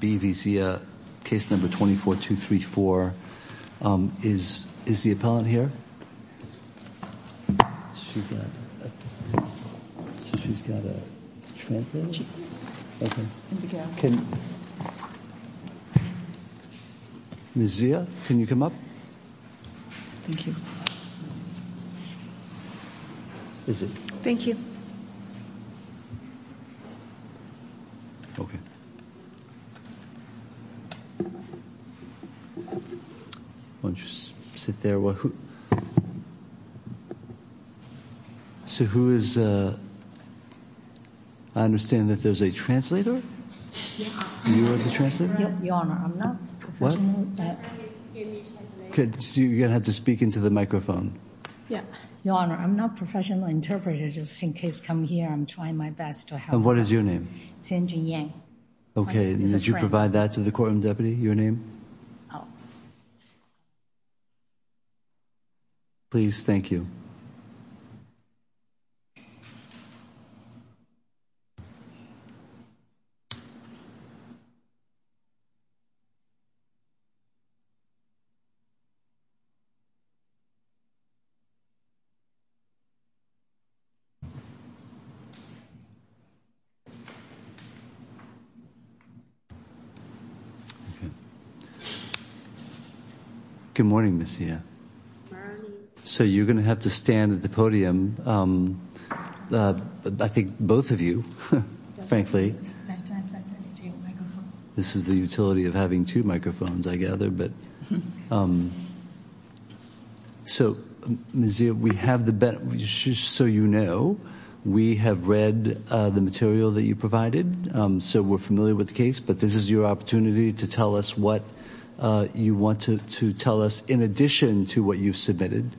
B v Zia, case number 24234, is the appellant here? So she's got a translator? Ms. Zia, can you come up? Thank you. Is it? Thank you. Okay. Why don't you sit there while who? So who is, I understand that there's a translator? Yeah. You are the translator? Your Honor, I'm not professional. What? My friend gave me a translator. Okay, so you're going to have to speak into the microphone. Yeah. Your Honor, I'm not a professional interpreter, just in case, come here, I'm trying my best to help. And what is your name? Jianjun Yang. Okay, and did you provide that to the courtroom deputy, your name? Oh. Please, thank you. Okay. Good morning, Ms. Zia. Good morning. So you're going to have to stand at the podium. I think both of you, frankly. This is the utility of having two microphones, I gather. So Ms. Zia, we have the, just so you know, we have read the material that you provided, so we're familiar with the case, but this is your opportunity to tell us what you want to tell us in addition to what you've submitted,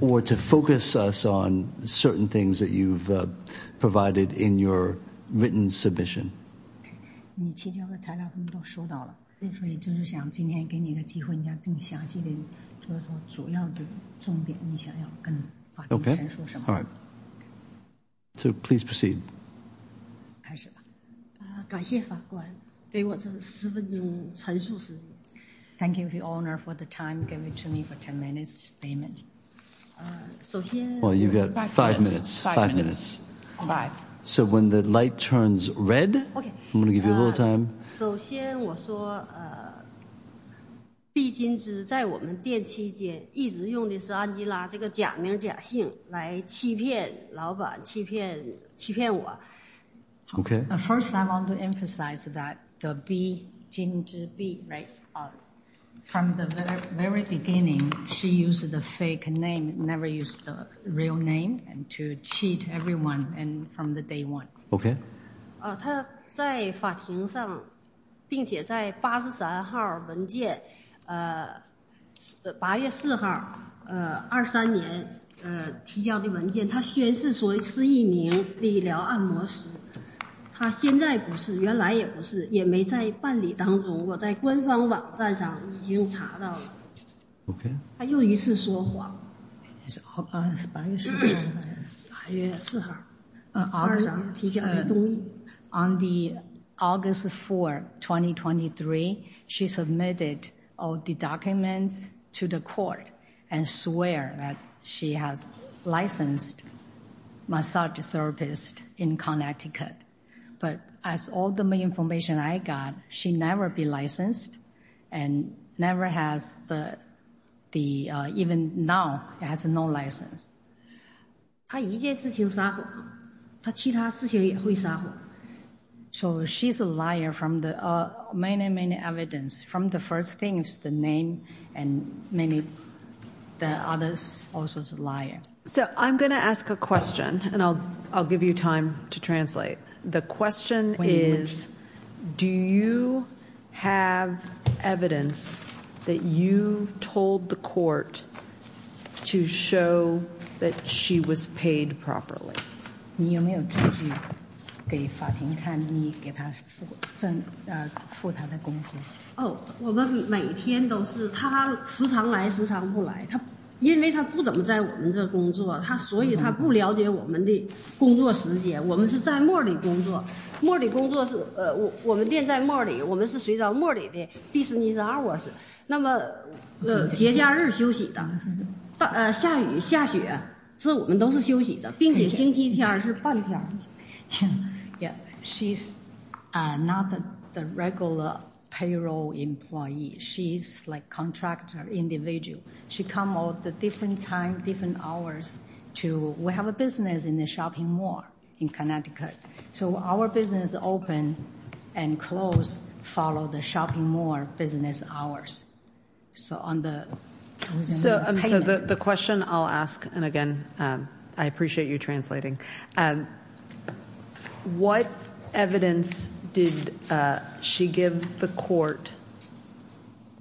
or to focus us on certain things that you've provided in your written submission. Okay. All right. So please proceed. Thank you, Your Honor, for the time. Give it to me for 10 minutes, statement. Well, you've got five minutes. Five minutes. Five. So when the light turns red, I'm going to give you a little time. Okay. First, I want to emphasize that the B, Jin Zhi Bi, right, from the very beginning, she used the fake name, never used the real name, and to cheat everyone from the day one. Okay. Okay. Okay. Okay. On August 4, 2023, she submitted all the documents to the court and swore that she has licensed massage therapist in Connecticut. But as all the information I got, she never be licensed and never has the, even now, has no license. 她一件事情撒谎,她其他事情也会撒谎。So she's a liar from the many, many evidence. From the first thing is the name and many, the others also is a liar. So I'm going to ask a question and I'll give you time to translate. The question is, do you have evidence that you told the court to show that she was paid properly? She's not the regular payroll employee. She's like contractor individual. She come out the different time, different hours to, we have a business in the shopping mall in Connecticut. So our business open and close follow the shopping mall business hours. So the question I'll ask, and again, I appreciate you translating. What evidence did she give the court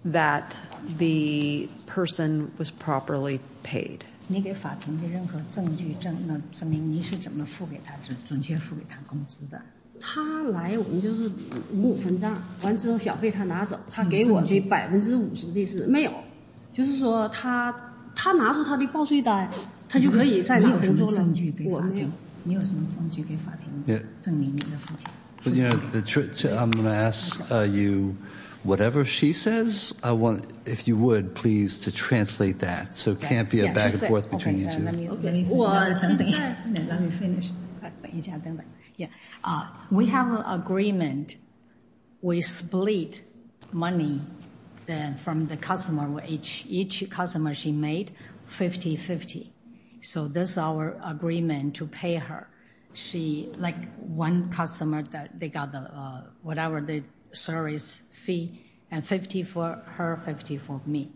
that the person was properly paid? I'm going to ask you, whatever she says, I want, if you would, please to translate that. So it can't be a back and forth between you two. Let me finish. We have an agreement. We split money from the customer, each customer she made 50-50. So this is our agreement to pay her. She, like one customer, they got whatever the service fee and 50 for her, 50 for me.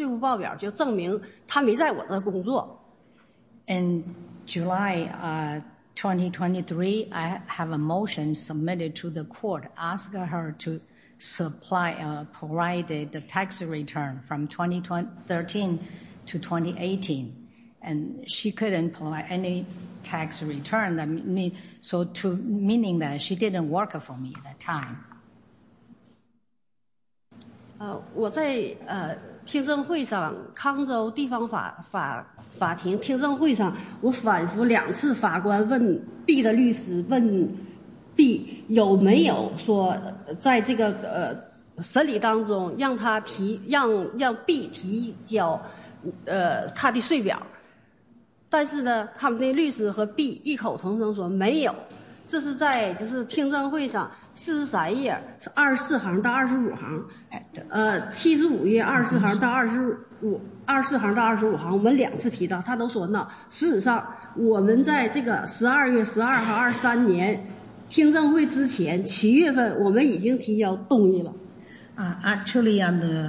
In July, 2023, I have a motion submitted to the court asking her to supply, provide the tax return from 2013 to 2018. And she couldn't provide any tax return. Meaning that she didn't work for me at that time. Actually, on the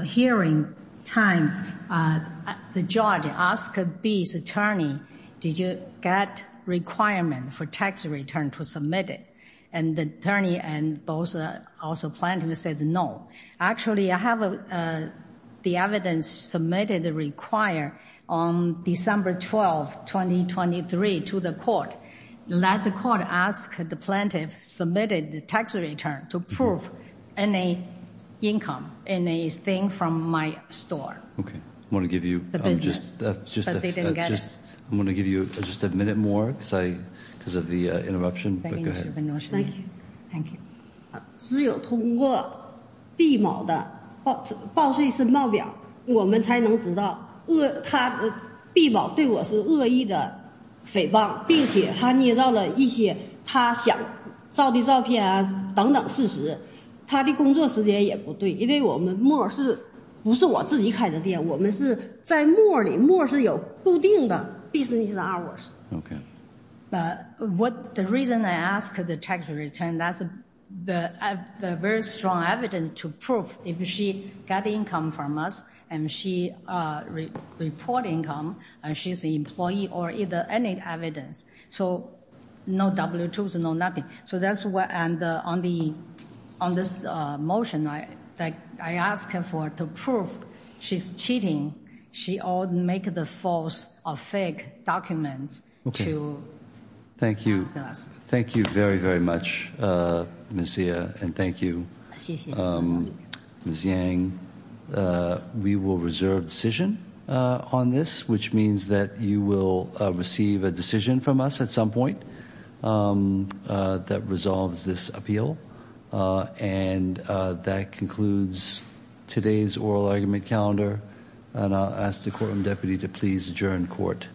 hearing time, the judge asked B's attorney, did you get requirement for tax return to submit it? And the attorney and also plaintiff says no. Actually, I have the evidence submitted required on December 12, 2023 to the court. Let the court ask the plaintiff submitted the tax return to prove any income, anything from my store. I want to give you just a minute more because of the interruption. Thank you. Thank you. Okay. But the reason I ask the tax return, that's a very strong evidence to prove if she got income from us and she report income and she's an employee or either any evidence. So no W-2s, no nothing. And on this motion, I ask her to prove she's cheating. She all make the false or fake documents. Thank you. Thank you very, very much, Ms. Xia. And thank you, Ms. Yang. We will reserve decision on this, which means that you will receive a decision from us at some point. That resolves this appeal. And that concludes today's oral argument calendar. And I'll ask the courtroom deputy to please adjourn court.